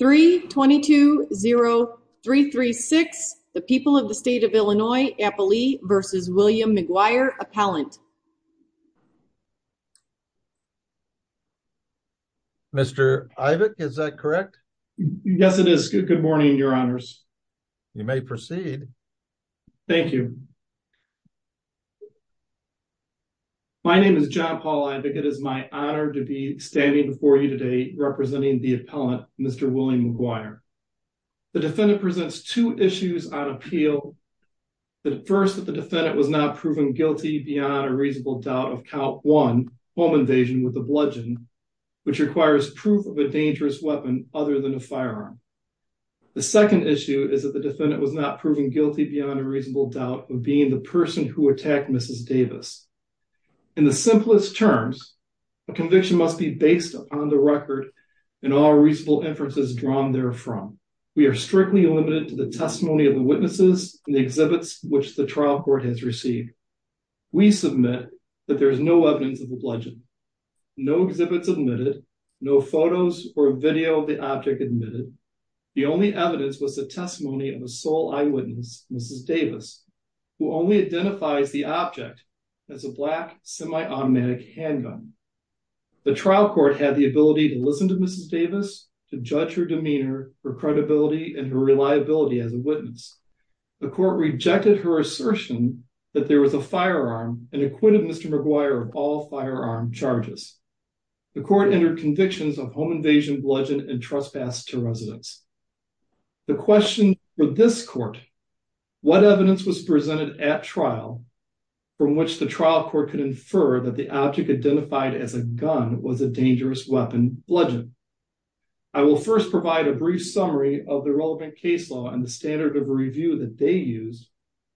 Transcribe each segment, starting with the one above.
3220336, the people of the state of Illinois, Applee v. William McGuire, Appellant. Mr. Ivick, is that correct? Yes, it is. Good morning, Your Honors. You may proceed. Thank you. My name is John Paul Ivick. It is my honor to be standing before you today representing the appellant, Mr. William McGuire. The defendant presents two issues on appeal. First, that the defendant was not proven guilty beyond a reasonable doubt of count one, home invasion with the bludgeon, which requires proof of a dangerous weapon other than a firearm. The second issue is that the defendant was not proven guilty beyond a reasonable doubt of being the person who attacked Mrs. Davis. In the simplest terms, a conviction must be based upon the record and all reasonable inferences drawn there from. We are strictly limited to the testimony of the witnesses and the exhibits which the trial court has received. We submit that there is no evidence of the bludgeon, no exhibits admitted, no photos or video of the object admitted. The only evidence was the testimony of a sole eyewitness, Mrs. Davis, who only identifies the object as a black semi-automatic handgun. The trial court had the ability to listen to Mrs. Davis, to judge her demeanor, her credibility and her reliability as a witness. The court rejected her assertion that there was a firearm and acquitted Mr. McGuire of all firearm charges. The court entered convictions of home invasion, bludgeon and trespass to this court. What evidence was presented at trial from which the trial court could infer that the object identified as a gun was a dangerous weapon, bludgeon? I will first provide a brief summary of the relevant case law and the standard of review that they used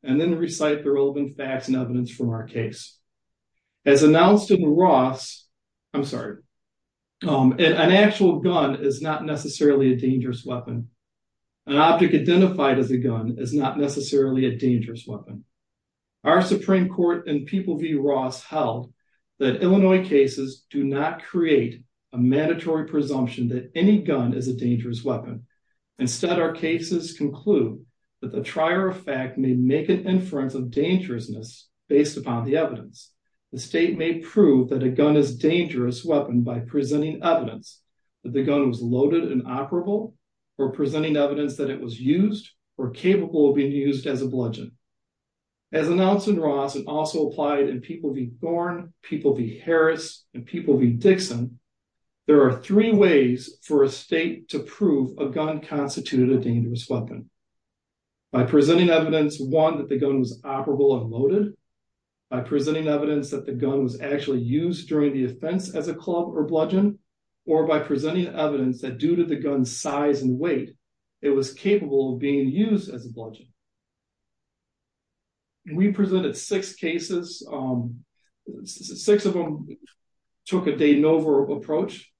and then recite the relevant facts and evidence from our case. As announced in Ross, I'm sorry, an actual gun is not necessarily a dangerous weapon. Our Supreme Court in People v. Ross held that Illinois cases do not create a mandatory presumption that any gun is a dangerous weapon. Instead, our cases conclude that the trier of fact may make an inference of dangerousness based upon the evidence. The state may prove that a gun is a dangerous weapon by presenting evidence that the gun was loaded and operable or presenting evidence that it was used or capable of being used as a bludgeon. As announced in Ross and also applied in People v. Thorne, People v. Harris and People v. Dixon, there are three ways for a state to prove a gun constituted a dangerous weapon. By presenting evidence, one, that the gun was operable and loaded, by presenting evidence that the gun was actually used during the offense as a club or bludgeon, or by presenting evidence that the gun's size and weight, it was capable of being used as a bludgeon. We presented six cases. Six of them took a de novo approach.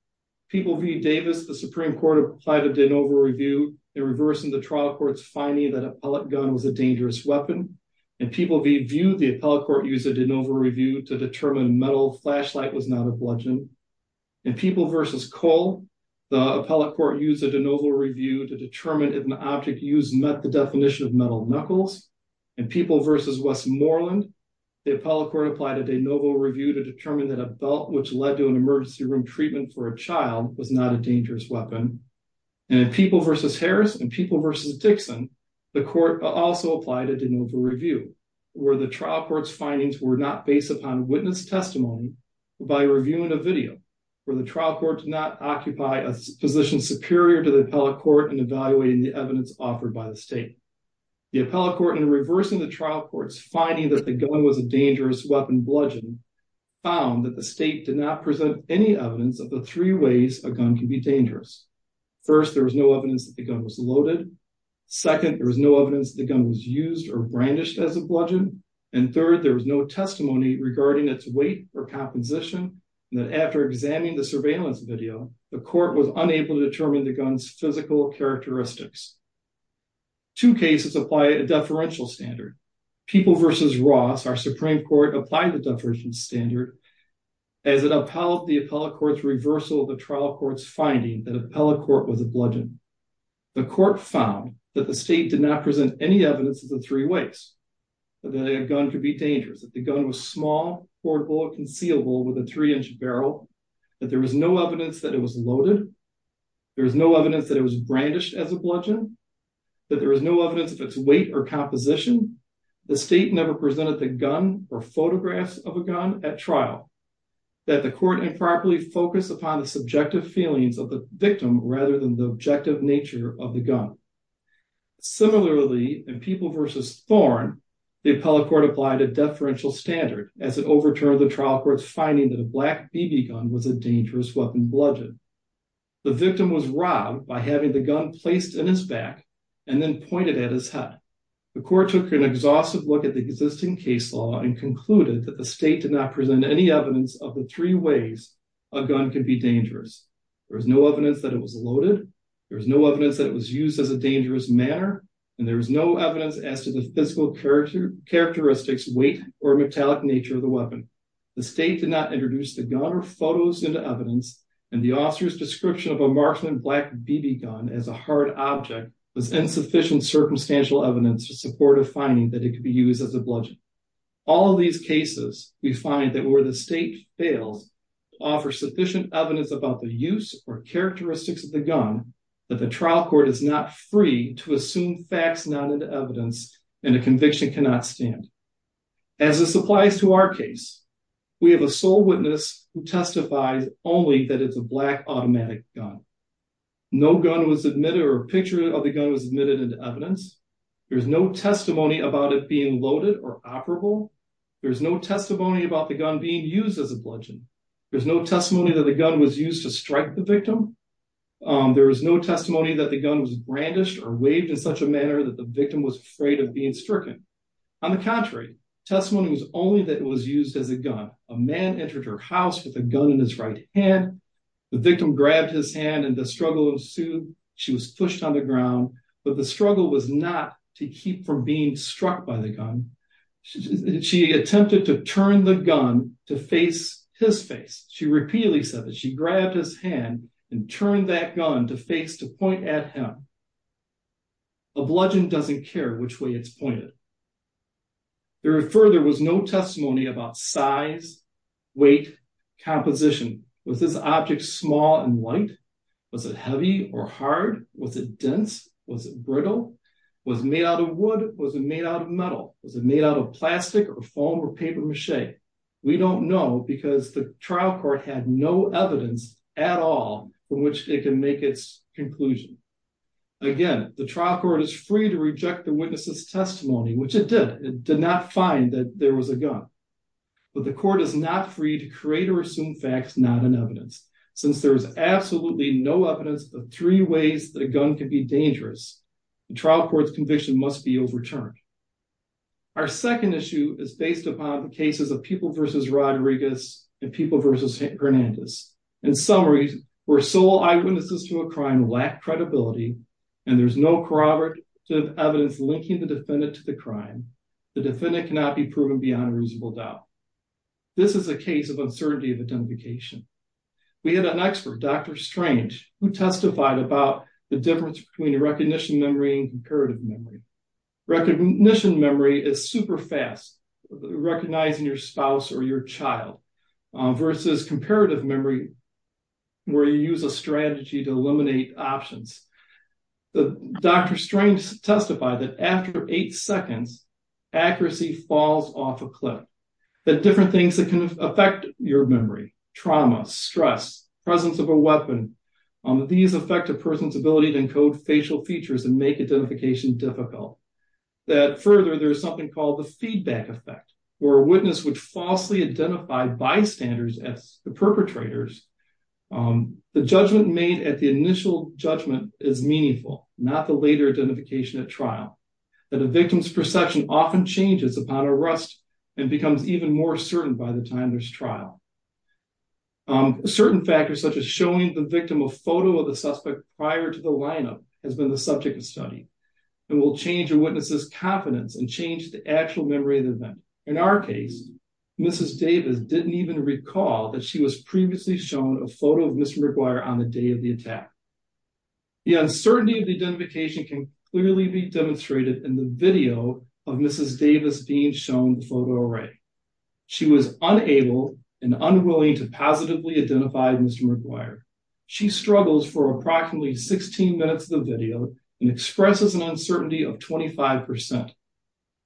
People v. Davis, the Supreme Court applied a de novo review in reversing the trial court's finding that an appellate gun was a dangerous weapon. In People v. View, the appellate court used a de novo review to determine metal flashlight was not a bludgeon. In People v. Cole, the appellate court used a de novo review to determine if an object used met the definition of metal knuckles. In People v. Westmoreland, the appellate court applied a de novo review to determine that a belt which led to an emergency room treatment for a child was not a dangerous weapon. In People v. Harris and People v. Dixon, the court also applied a de novo review where the trial court's findings were not based upon witness testimony by reviewing a video where the trial court did not occupy a position superior to the appellate court in evaluating the evidence offered by the state. The appellate court in reversing the trial court's finding that the gun was a dangerous weapon bludgeon found that the state did not present any evidence of the three ways a gun can be dangerous. First, there was no evidence that the gun was loaded. Second, there was no evidence the gun was used or brandished as a bludgeon. And third, there was no testimony regarding its weight or composition that after examining the surveillance video, the court was unable to determine the gun's physical characteristics. Two cases apply a deferential standard. People v. Ross, our Supreme Court, applied the deferential standard as it upheld the appellate court's reversal of the trial court's finding that appellate court was a bludgeon. The court found that the state did not present any evidence of the three ways that a gun could be dangerous, that the gun was small, portable, concealable with a three-inch barrel, that there was no evidence that it was loaded, there was no evidence that it was brandished as a bludgeon, that there is no evidence of its weight or composition, the state never presented the gun or photographs of a gun at trial, that the court improperly focused upon the subjective feelings of the victim rather than the objective nature of the gun. Similarly, in People v. Thorn, the appellate court applied a deferential standard as it overturned the trial court's finding that a black BB gun was a dangerous weapon bludgeon. The victim was robbed by having the gun placed in his back and then pointed at his head. The court took an exhaustive look at the existing case law and concluded that the state did not present any evidence of the three ways a gun can be dangerous. There was no evidence that it was loaded, there was no evidence that it was used as a dangerous manner, and there was no evidence as to the physical characteristics, weight, or metallic nature of the weapon. The state did not introduce the gun or photos into evidence and the officer's description of a marksman black BB gun as a hard object was insufficient circumstantial evidence to support a finding that it could be used as a bludgeon. All of these cases we find that where the state fails to offer sufficient evidence about the use or characteristics of the gun that the trial court is not free to assume facts not into evidence and a conviction cannot stand. As this applies to our case, we have a sole witness who testifies only that it's a black automatic gun. No gun was admitted or a picture of the gun was admitted into evidence, there's no testimony about it being loaded or operable, there's no testimony about the gun being used as a weapon. There was no testimony that the gun was brandished or waved in such a manner that the victim was afraid of being stricken. On the contrary, testimony was only that it was used as a gun. A man entered her house with a gun in his right hand, the victim grabbed his hand, and the struggle ensued. She was pushed on the ground, but the struggle was not to keep from being struck by the gun. She attempted to turn the gun to face his face. She repeatedly said that she grabbed his hand and turned that gun to face to point at him. A bludgeon doesn't care which way it's pointed. There further was no testimony about size, weight, composition. Was this object small and light? Was it heavy or hard? Was it dense? Was it brittle? Was it made out of wood? Was it made out of metal? Was it made out of plastic or foam or paper mache? We don't know because the trial court had no evidence at all from which it can make its conclusion. Again, the trial court is free to reject the witness's testimony, which it did. It did not find that there was a gun, but the court is not free to create or assume facts not in evidence. Since there is absolutely no evidence of three ways that a gun can be dangerous, the trial court's conviction must be overturned. Our second issue is based upon cases of People v. Rodriguez and People v. Hernandez. In summary, where sole eyewitnesses to a crime lack credibility and there's no corroborative evidence linking the defendant to the crime, the defendant cannot be proven beyond reasonable doubt. This is a case of uncertainty of identification. We had an expert, Dr. Strange, who testified about the difference between recognition memory and comparative memory. Recognition memory is super fast, recognizing your spouse or your child, versus comparative memory where you use a strategy to eliminate options. Dr. Strange testified that after eight seconds, accuracy falls off a cliff. The different things that can affect your memory, trauma, stress, presence of a weapon, these affect a person's ability to encode facial features and make identification difficult. That further, there's something called the feedback effect, where a witness would falsely identify bystanders as the perpetrators. The judgment made at the initial judgment is meaningful, not the later identification at trial. That a victim's perception often changes upon arrest and becomes even more certain by the time there's trial. Certain factors, such as showing the victim a photo of the suspect prior to the lineup, has been the subject of study and will change a witness's confidence and change the actual memory of the event. In our case, Mrs. Davis didn't even recall that she was previously shown a photo of Mr. McGuire on the day of the attack. The uncertainty of the identification can clearly be demonstrated in the video of Mrs. Davis being shown the photo array. She was unable and unwilling to positively identify Mr. McGuire. She struggles for approximately 16 minutes of the video and expresses an uncertainty of 25%.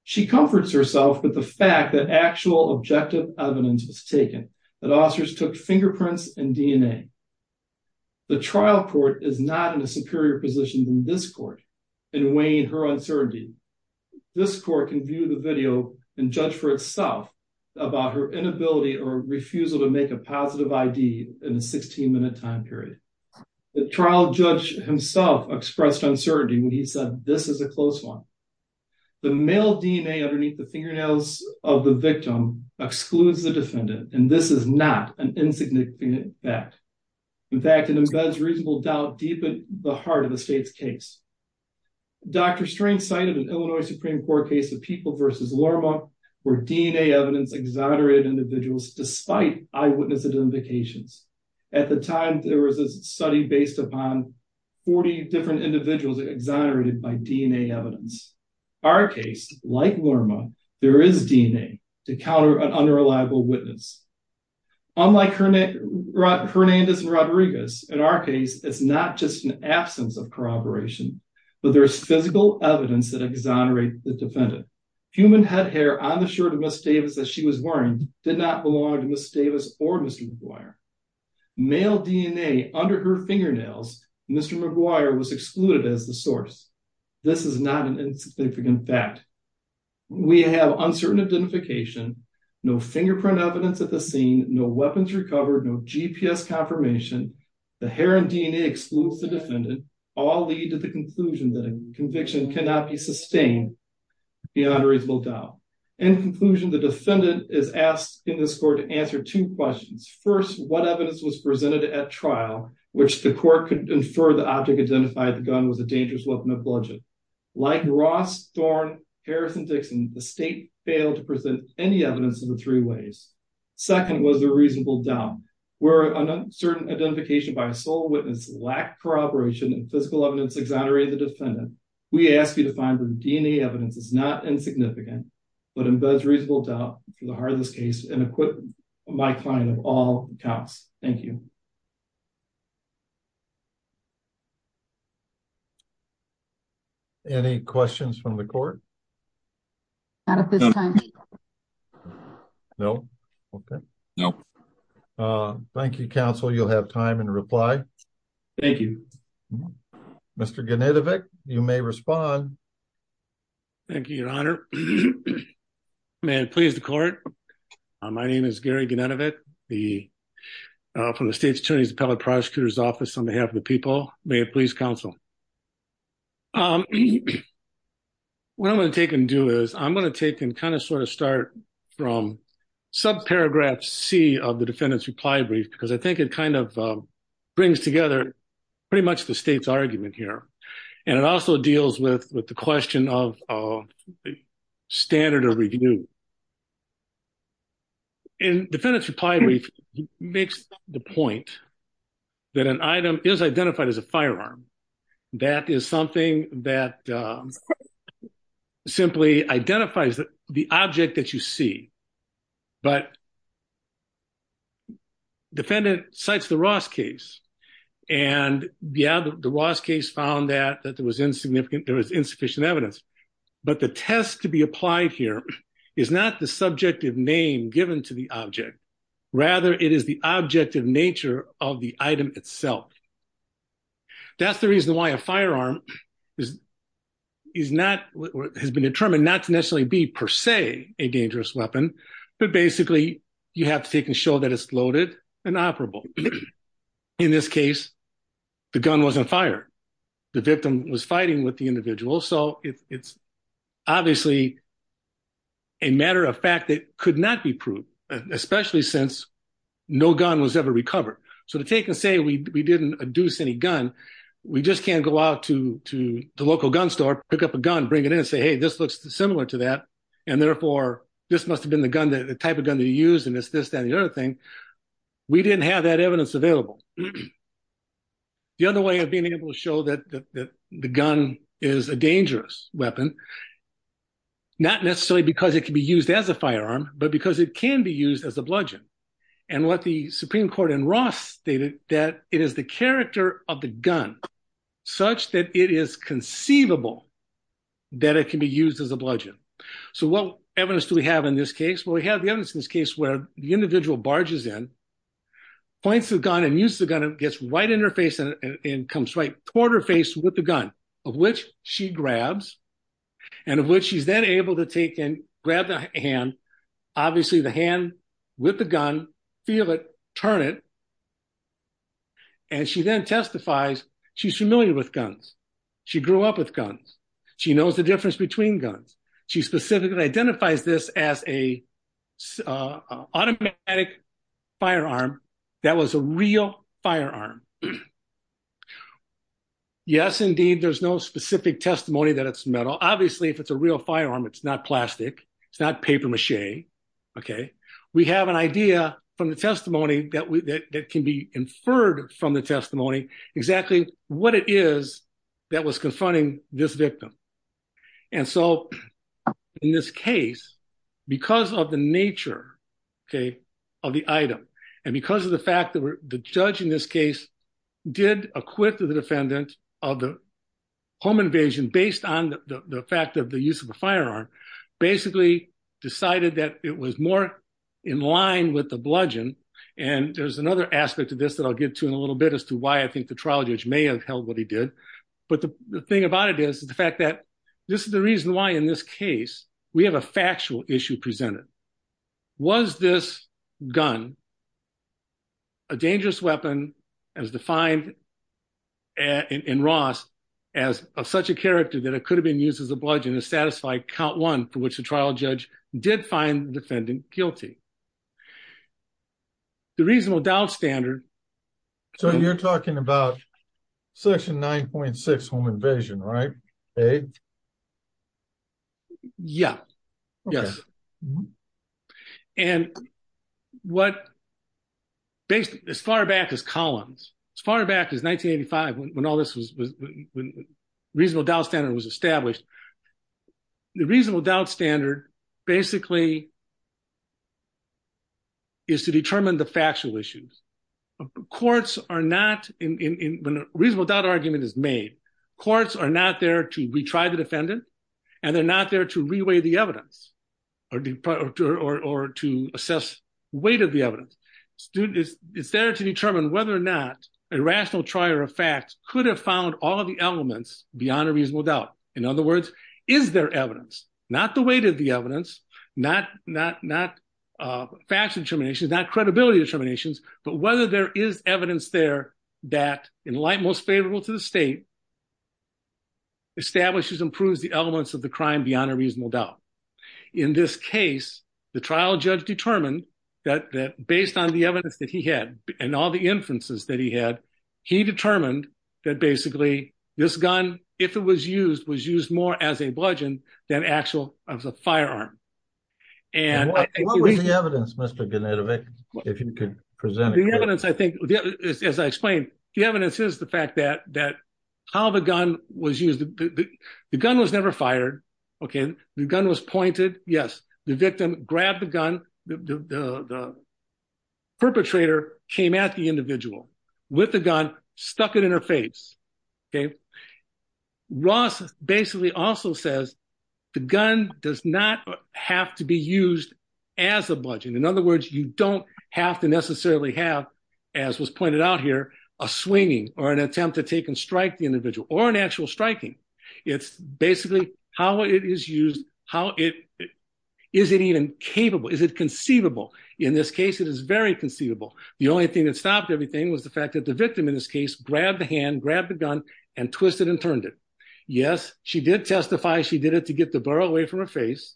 She comforts herself with the fact that actual objective evidence was taken, that officers took fingerprints and DNA. The trial court is not in a superior position than this court in weighing her uncertainty. This court can view the video and judge for itself about her inability or refusal to make a positive ID in a 16-minute time period. The trial judge himself expressed uncertainty when he said, this is a close one. The male DNA underneath the fingernails of the victim excludes the defendant and this is not an insignificant fact. In fact, it embeds reasonable doubt deep in the heart of the state's case. Dr. Strang cited an Illinois Supreme Court case of People v. Lorma where DNA evidence exonerated individuals despite eyewitness identifications. At the time, there was a study based upon 40 different individuals exonerated by DNA evidence. Our case, like Lorma, there is DNA to counter an unreliable witness. Unlike Hernandez and Rodriguez, in our case, it's not just an absence of corroboration, but there's physical evidence that exonerates the defendant. Human head hair on the shirt of Ms. Davis that she was wearing did not belong to Ms. Davis or Mr. McGuire. Male DNA under her fingernails, Mr. McGuire was excluded as the source. This is not an insignificant fact. We have uncertain identification, no fingerprint evidence at the scene, no weapons recovered, no GPS confirmation. The hair and DNA excludes the defendant. All lead to the conclusion that a conviction cannot be sustained beyond a reasonable doubt. In conclusion, the defendant is asked in this court to answer two questions. First, what evidence was presented at trial which the court could infer the object identified the gun was a dangerous weapon of bludgeoning. Like Ross, Thorne, Harris, and Dixon, the state failed to present any evidence in the three ways. Second was the reasonable doubt. Where an uncertain identification by a sole witness lacked corroboration and physical evidence exonerated the defendant, we ask you to find the DNA evidence is not insignificant, but embeds reasonable doubt for the heart of this case, and equip my client of all accounts. Thank you. Any questions from the court? Not at this time. No. Okay. No. Thank you, counsel. You'll have time in reply. Thank you. Mr. Genetovic, you may respond. Thank you, your honor. May it please the court. My name is Gary Genetovic, from the State's Attorney's Appellate Prosecutor's Office on behalf of the people. May it please counsel. What I'm going to take and do is I'm going to take and kind of sort of start from subparagraph C of the defendant's reply brief, because I think it kind of together pretty much the state's argument here. And it also deals with the question of standard of review. And defendant's reply brief makes the point that an item is identified as a firearm. That is something that simply identifies the object that you see. But the defendant cites the Ross case. And yeah, the Ross case found that there was insufficient evidence. But the test to be applied here is not the subjective name given to the object. Rather, it is the objective nature of the item itself. That's the reason why a firearm has been determined not to necessarily be per se a dangerous weapon. But basically, you have to take and show that it's loaded and operable. In this case, the gun wasn't fired. The victim was fighting with the individual. So it's obviously a matter of fact that could not be proved, especially since no gun was ever recovered. So to take and say we didn't adduce any gun, we just can't go out to the local gun store, pick up a gun, bring it in and say, hey, this looks similar to that. And therefore, this must have been the type of gun to use. And it's this, that, and the other thing. We didn't have that evidence available. The other way of being able to show that the gun is a dangerous weapon, not necessarily because it can be used as a firearm, but because it can be used as a bludgeon. And what the Supreme Court in Ross stated that it is the character of the gun such that it is conceivable that it can be used as a bludgeon. So what evidence do we have in this case? Well, we have the evidence in this case where the individual barges in, points the gun and uses the gun and gets right in her face and comes right toward her face with the gun, of which she grabs, and of which she's then able to take and grab the hand, obviously the hand with the gun, feel it, turn it. And she then testifies, she's familiar with guns. She grew up with guns. She knows the difference between guns. She specifically identifies this as an automatic firearm that was a real firearm. Yes, indeed, there's no specific testimony that it's metal. Obviously, if it's a real firearm, it's not plastic. It's not paper mache. Okay. We have an idea from the testimony that can be inferred from the testimony exactly what it is that was confronting this victim. And so in this case, because of the nature of the item, and because of the fact that the judge in this case did acquit the defendant of the home invasion based on the fact of the use of the firearm, basically decided that it was more in line with the bludgeon. And there's another aspect of this that I'll get to in a little bit as to why I think the trial judge may have held what he did. But the thing about it is the fact that this is the reason why in this case, we have a factual issue presented. Was this gun a dangerous weapon as defined in Ross as such a character that it could have been used as a bludgeon to satisfy count one for which the trial judge did find the defendant guilty. The reasonable doubt standard. So you're talking about section 9.6 home invasion, right? Yeah. Yes. And what based as far back as columns, as far back as 1985, when all this was reasonable doubt standard was established. The reasonable doubt standard basically is to determine the factual issues. Courts are not in when a reasonable doubt argument is made. Courts are not there to retry the defendant and they're not there to reweigh the evidence or to assess weight of the evidence. It's there to determine whether or not a rational trier of facts could have found all of the elements beyond a reasonable doubt. In other words, is there evidence, not the weight of the evidence, not facts determinations, not credibility determinations, but whether there is evidence there that in light most favorable to the state. Establishes improves the elements of the crime beyond a reasonable doubt. In this case, the trial judge determined that based on the evidence that he had and all the inferences that he had, he determined that basically this gun, if it was used, was used more as a bludgeon than actual as a firearm. And what was the evidence, Mr. Genetovic, if you could present it? The evidence, I think, as I explained, the evidence is the fact that how the gun was used. The gun was never fired. Okay. The gun was pointed. Yes. The victim grabbed the gun. The perpetrator came at the individual with the gun, stuck it in her face. Okay. Ross basically also says the gun does not have to be used as a bludgeon. In other words, you don't have to necessarily have, as was pointed out here, a swinging or an attempt to take and strike the individual or an actual striking. It's basically how it is used. How is it even capable? Is it conceivable? In this case, it is very conceivable. The only thing that stopped everything was the victim in this case, grabbed the hand, grabbed the gun and twisted and turned it. Yes, she did testify. She did it to get the burrow away from her face,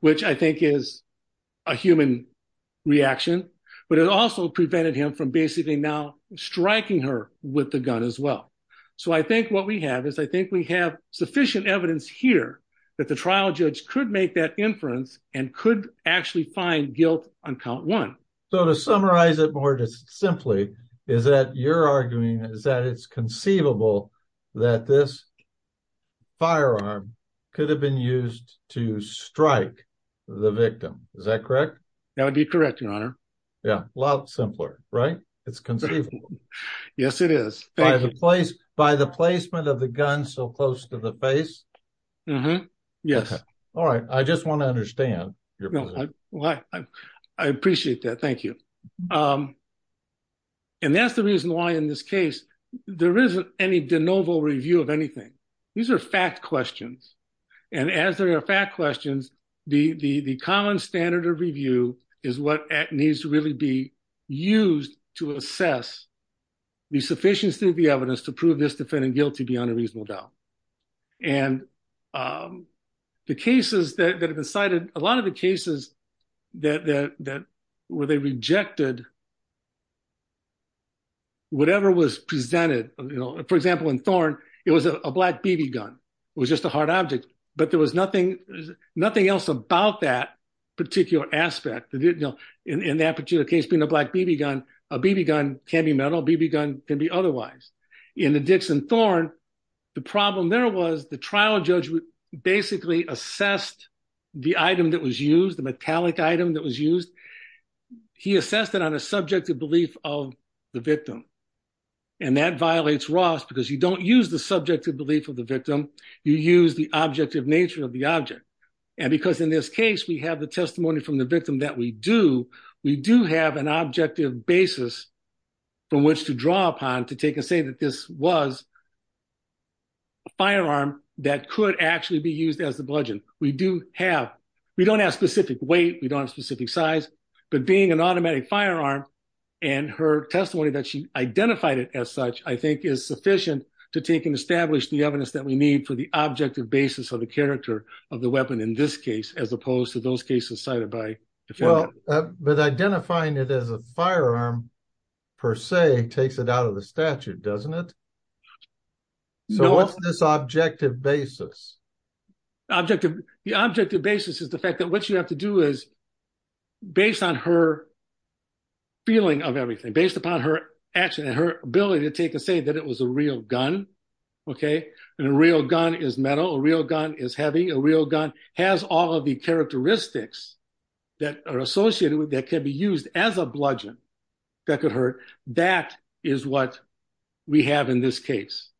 which I think is a human reaction, but it also prevented him from basically now striking her with the gun as well. So I think what we have is I think we have sufficient evidence here that the trial judge could make that inference and could actually find guilt on count one. So to summarize it more just simply, is that you're arguing is that it's conceivable that this firearm could have been used to strike the victim? Is that correct? That would be correct, Your Honor. Yeah, a lot simpler, right? It's conceivable. Yes, it is. By the placement of the gun so close to the face? Yes. All right. I just and that's the reason why in this case there isn't any de novo review of anything. These are fact questions. And as there are fact questions, the common standard of review is what needs to really be used to assess the sufficiency of the evidence to prove this defendant guilty beyond a reasonable doubt. And the cases that have been cited, a lot of the cases that were they rejected whatever was presented. For example, in Thorne, it was a black BB gun. It was just a hard object, but there was nothing else about that particular aspect. In that particular case being a black BB gun, a BB gun can be metal, BB gun can be otherwise. In the Dixon Thorne, the problem there was the trial judge basically assessed the item that was used, the metallic item that was the victim. And that violates Ross because you don't use the subjective belief of the victim, you use the objective nature of the object. And because in this case we have the testimony from the victim that we do, we do have an objective basis from which to draw upon to take and say that this was a firearm that could actually be used as the bludgeon. We do have, we don't have identified it as such, I think is sufficient to take and establish the evidence that we need for the objective basis of the character of the weapon in this case, as opposed to those cases cited by the defendant. But identifying it as a firearm per se takes it out of the statute, doesn't it? So what's this objective basis? The objective basis is the fact that what you have to do is based on her feeling of everything, based upon her action and her ability to take and say that it was a real gun, okay? And a real gun is metal, a real gun is heavy, a real gun has all of the characteristics that are associated with that can be used as a bludgeon that could hurt. That is what we have in this case.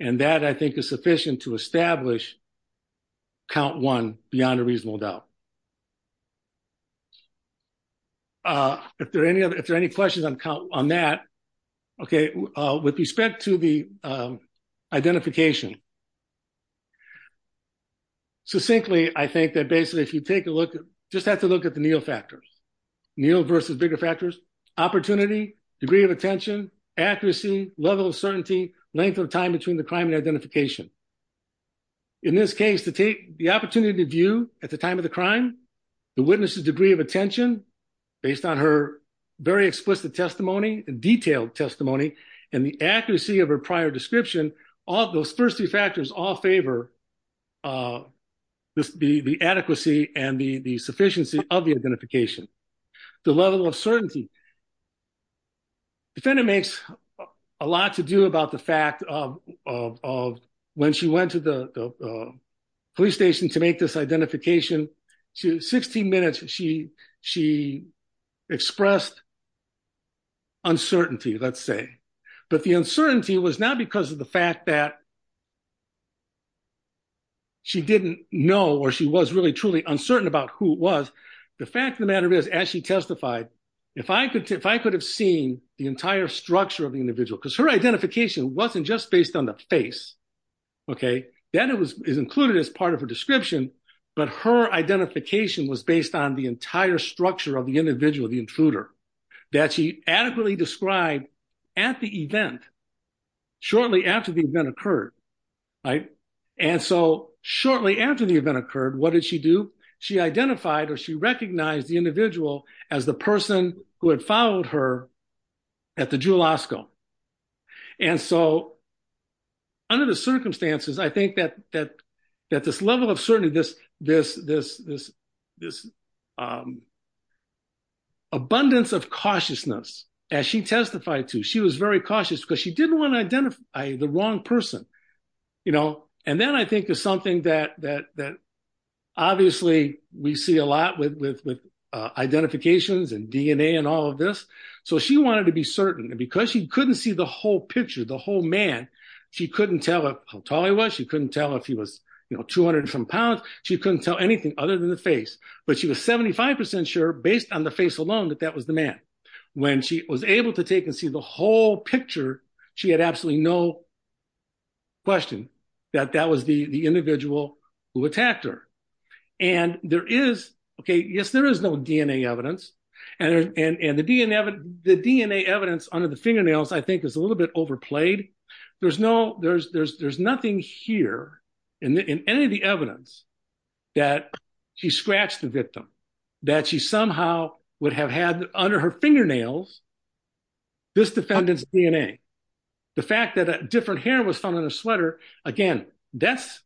And that I think is sufficient to establish count one beyond a gun. If there are any questions on that, okay, with respect to the identification, succinctly, I think that basically if you take a look, just have to look at the Neil factors, Neil versus bigger factors, opportunity, degree of attention, accuracy, level of certainty, length of time between the crime and identification. In this case, to take the opportunity to view at the time of the crime, the witness's degree of attention, based on her very explicit testimony, detailed testimony, and the accuracy of her prior description, all those first three factors all favor the adequacy and the sufficiency of the identification. The level of certainty. Defendant makes a lot to do about the fact of when she went to the police station to make this identification, 16 minutes she expressed uncertainty, let's say. But the uncertainty was not because of the fact that she didn't know or she was really truly uncertain about who it was. The fact of the matter is, as she testified, if I could have seen the entire structure of the individual, because her identification wasn't just based on the face, okay? That is included as part of her description, but her identification was based on the entire structure of the individual, the intruder, that she adequately described at the event, shortly after the event occurred, right? And so shortly after the event occurred, what did she do? She identified or she recognized the intruder. And so under the circumstances, I think that this level of certainty, this abundance of cautiousness, as she testified to, she was very cautious because she didn't want to identify the wrong person, you know? And then I think there's something that obviously we see a lot with identifications and DNA and all of this. So she wanted to be certain. And because she couldn't see the whole picture, the whole man, she couldn't tell how tall he was. She couldn't tell if he was, you know, 200 and some pounds. She couldn't tell anything other than the face. But she was 75% sure, based on the face alone, that that was the man. When she was able to take and see the whole picture, she had absolutely no question that that was the individual who attacked her. And there is, okay, yes, there is no DNA evidence. And the DNA evidence under the fingernails, I think is a little bit overplayed. There's nothing here in any of the evidence that she scratched the victim, that she somehow would have had under her fingernails, this defendant's DNA. The fact that a different hair was found on her sweater, again, that's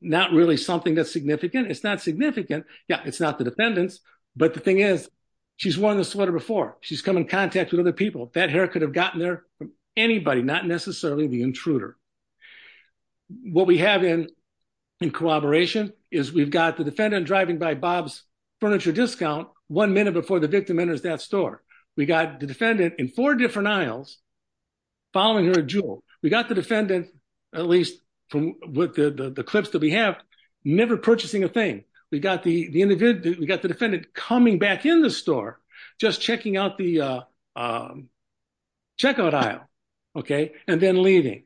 not really something that's significant. It's not significant. Yeah, it's not the defendant's. But the thing is, she's worn the sweater before, she's come in contact with other people, that hair could have gotten there from anybody, not necessarily the intruder. What we have in collaboration is we've got the defendant driving by Bob's furniture discount one minute before the victim enters that store. We got the defendant in four different aisles, following her at Jewel. We got the defendant, at least from with the clips that we have, never purchasing a thing. We got the defendant coming back in the store, just checking out the checkout aisle, okay, and then leaving.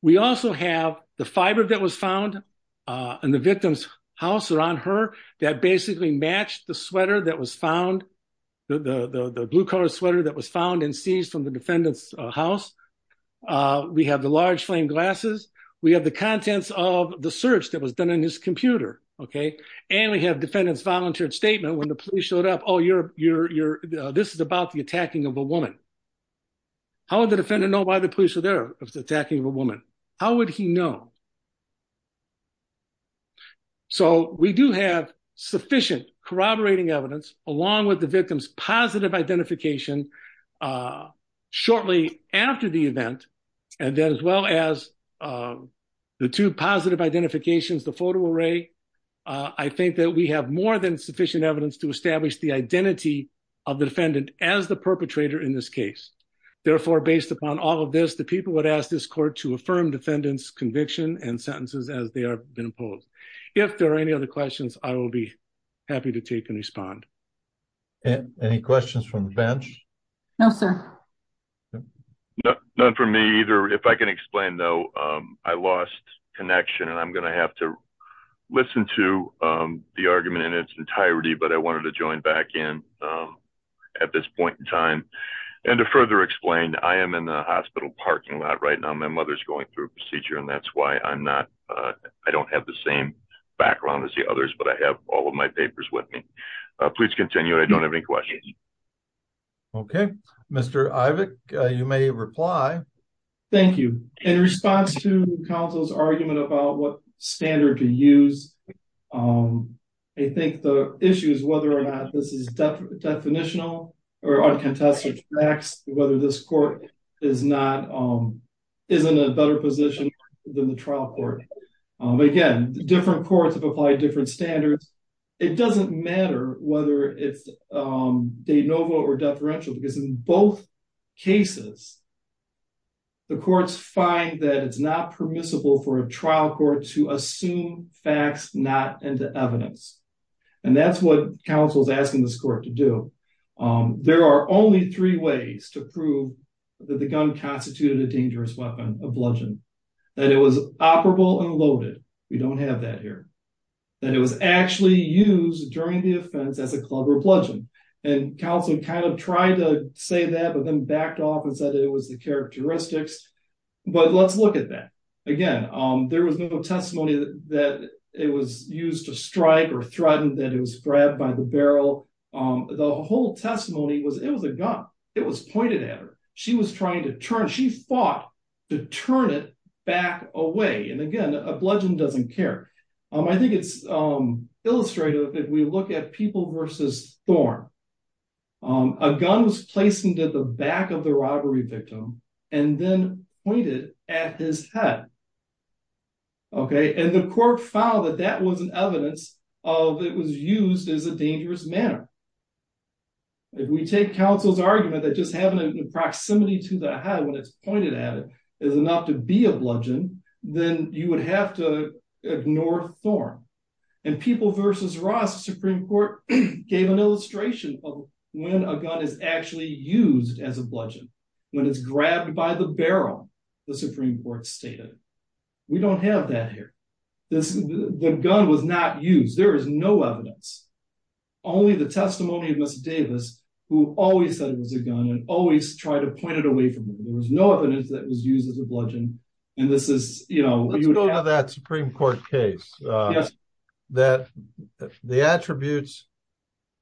We also have the fiber that was found in the victim's house around her that basically matched the sweater that was found, the blue color sweater that was found and seized from the defendant's house. We have the large flame glasses. We have the contents of the search that was done on his computer, okay, and we have defendant's volunteered statement when the police showed up. Oh, this is about the attacking of a woman. How would the defendant know why the police were there, attacking of a woman? How would he know? So we do have sufficient corroborating evidence along with the victim's positive identification shortly after the event and then as well as the two positive identifications, the photo array. I think that we have more than sufficient evidence to establish the identity of the defendant as the perpetrator in this case. Therefore, based upon all of this, the people would ask this court to affirm defendant's conviction and sentences as they have been imposed. If there are any other questions, I will be happy to take and respond. Any questions from the bench? No, sir. None from me either. If I can explain though, I lost connection and I'm going to have to listen to the argument in its entirety, but I wanted to join back in at this point in time. And to further explain, I am in the hospital parking lot right now. My mother's going through procedure and that's why I'm not, I don't have the same background as the others, but I have all of my papers with me. Please continue. I don't have any questions. Okay. Mr. Ivick, you may reply. Thank you. In response to counsel's argument about what standard to use, I think the issue is whether or not this is definitional or uncontested facts, whether this court is in a better position than the trial court. Again, different courts have applied different standards. It doesn't matter whether it's de novo or deferential because in both cases, the courts find that it's not permissible for a trial court to assume facts not into evidence. And that's what counsel's asking this court to do. There are only three ways to prove that the gun constituted a dangerous weapon, a bludgeon. That it was operable and loaded. We don't have that here. That it was actually used during the offense as a club or bludgeon. And counsel kind of tried to say that, but then backed off and said it was the characteristics. But let's look at that. Again, there was no testimony that it was used to strike or threaten that it was grabbed by the barrel. The whole testimony was it was a gun. It was pointed at her. She was trying to turn, she fought to turn it back away. And again, a bludgeon doesn't care. I think it's illustrative if we look at people versus Thorne. A gun was placed into the back of the robbery victim and then pointed at his head. And the court found that that wasn't evidence of it was used as a dangerous manner. If we take counsel's argument that just having a proximity to the head when it's pointed at it is enough to be a bludgeon, then you would have to ignore Thorne. And people versus Ross, Supreme Court gave an illustration of when a gun is actually used as a bludgeon. When it's grabbed by the barrel, the Supreme Court stated. We don't have that here. The gun was not used. There is no evidence. Only the testimony of Ms. Davis, who always said it was a gun and always tried to point it away from her. There was no evidence that was used as a bludgeon. Let's go to that Supreme Court case. The attributes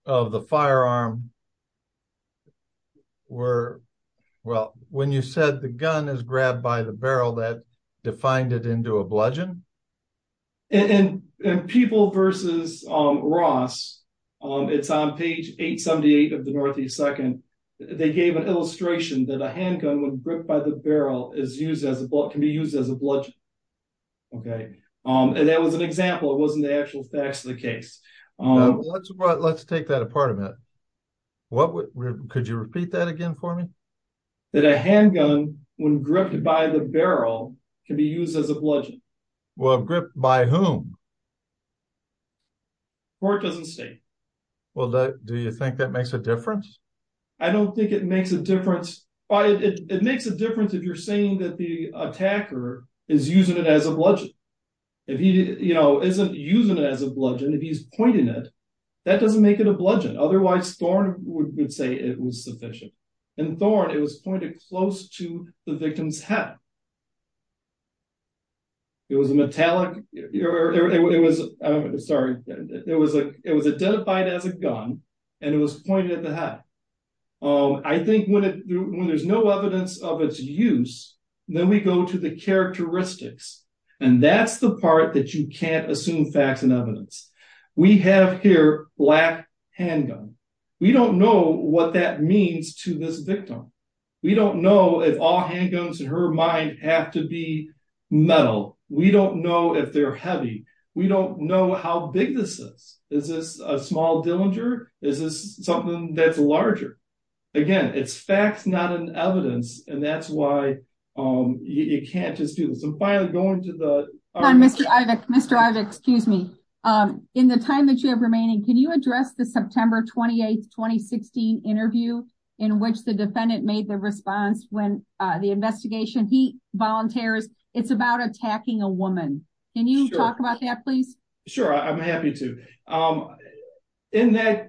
of the firearm were, well, when you said the gun is grabbed by the barrel, that defined it into a bludgeon? And people versus Ross, it's on page 878 of the Northeast Second, they gave an illustration that a handgun when gripped by the barrel can be used as a bludgeon. And that was an example. It wasn't the actual facts of the case. Let's take that apart a minute. Could you repeat that again for me? That a handgun, when gripped by the barrel, can be used as a bludgeon. Well, gripped by whom? Court doesn't state. Well, do you think that makes a difference? I don't think it makes a difference. It makes a difference if you're saying that the attacker is using it as a bludgeon. If he isn't using it as a bludgeon, if he's pointing it, that doesn't make it a bludgeon. Otherwise, Thorne would say it was sufficient. In Thorne, it was pointed close to the victim's head. It was identified as a gun, and it was pointed at the head. I think when there's no evidence of its use, then we go to the characteristics. And that's the part that you can't assume facts and evidence. We have here black handgun. We don't know what that means to this victim. We don't know if all her handguns in her mind have to be metal. We don't know if they're heavy. We don't know how big this is. Is this a small Dillinger? Is this something that's larger? Again, it's facts, not an evidence. And that's why you can't just do this. I'm finally going to the... Mr. Ivek, excuse me. In the time that you have remaining, can you address the September 28, 2016 interview in which the defendant made the response when the investigation, he volunteers, it's about attacking a woman? Can you talk about that, please? Sure. I'm happy to. In that,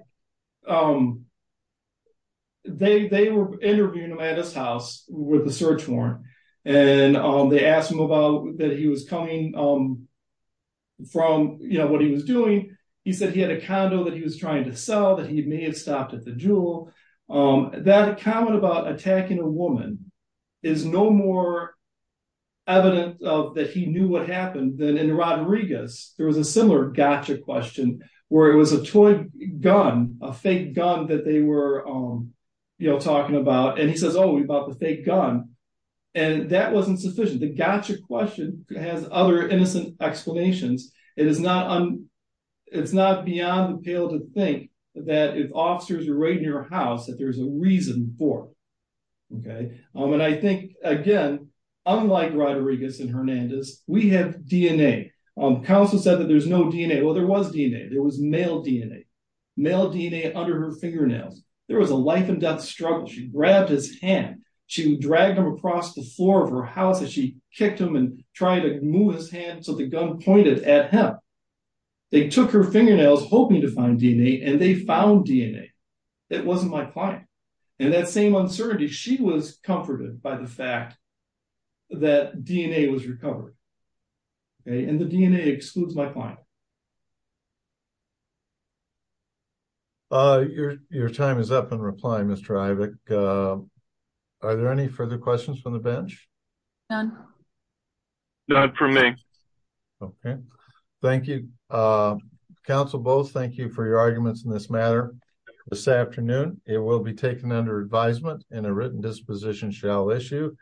they were interviewing him at his house with a search warrant. And they asked him about that he was coming from, what he was doing. He said he had a condo that he was trying to sell, that he may have stopped at the Jewel. That comment about attacking a woman is no more evident of that he knew what happened than in Rodriguez. There was a similar gotcha question where it was a toy gun, a fake gun that they were talking about. And he says, oh, we bought the fake gun. And that wasn't sufficient. The gotcha question has other explanations. It's not beyond the pale to think that if officers are right in your house that there's a reason for it. And I think, again, unlike Rodriguez and Hernandez, we have DNA. Counsel said that there's no DNA. Well, there was DNA. There was male DNA. Male DNA under her fingernails. There was a life and death struggle. She grabbed his hand. She dragged him across the the gun pointed at him. They took her fingernails hoping to find DNA, and they found DNA. It wasn't my client. And that same uncertainty, she was comforted by the fact that DNA was recovered. And the DNA excludes my client. Your time is up in reply, Mr. Ivic. Are there any further questions from the bench? None. None for me. Okay. Thank you. Counsel Bowles, thank you for your arguments in this matter. This afternoon, it will be taken under advisement and a written disposition shall issue.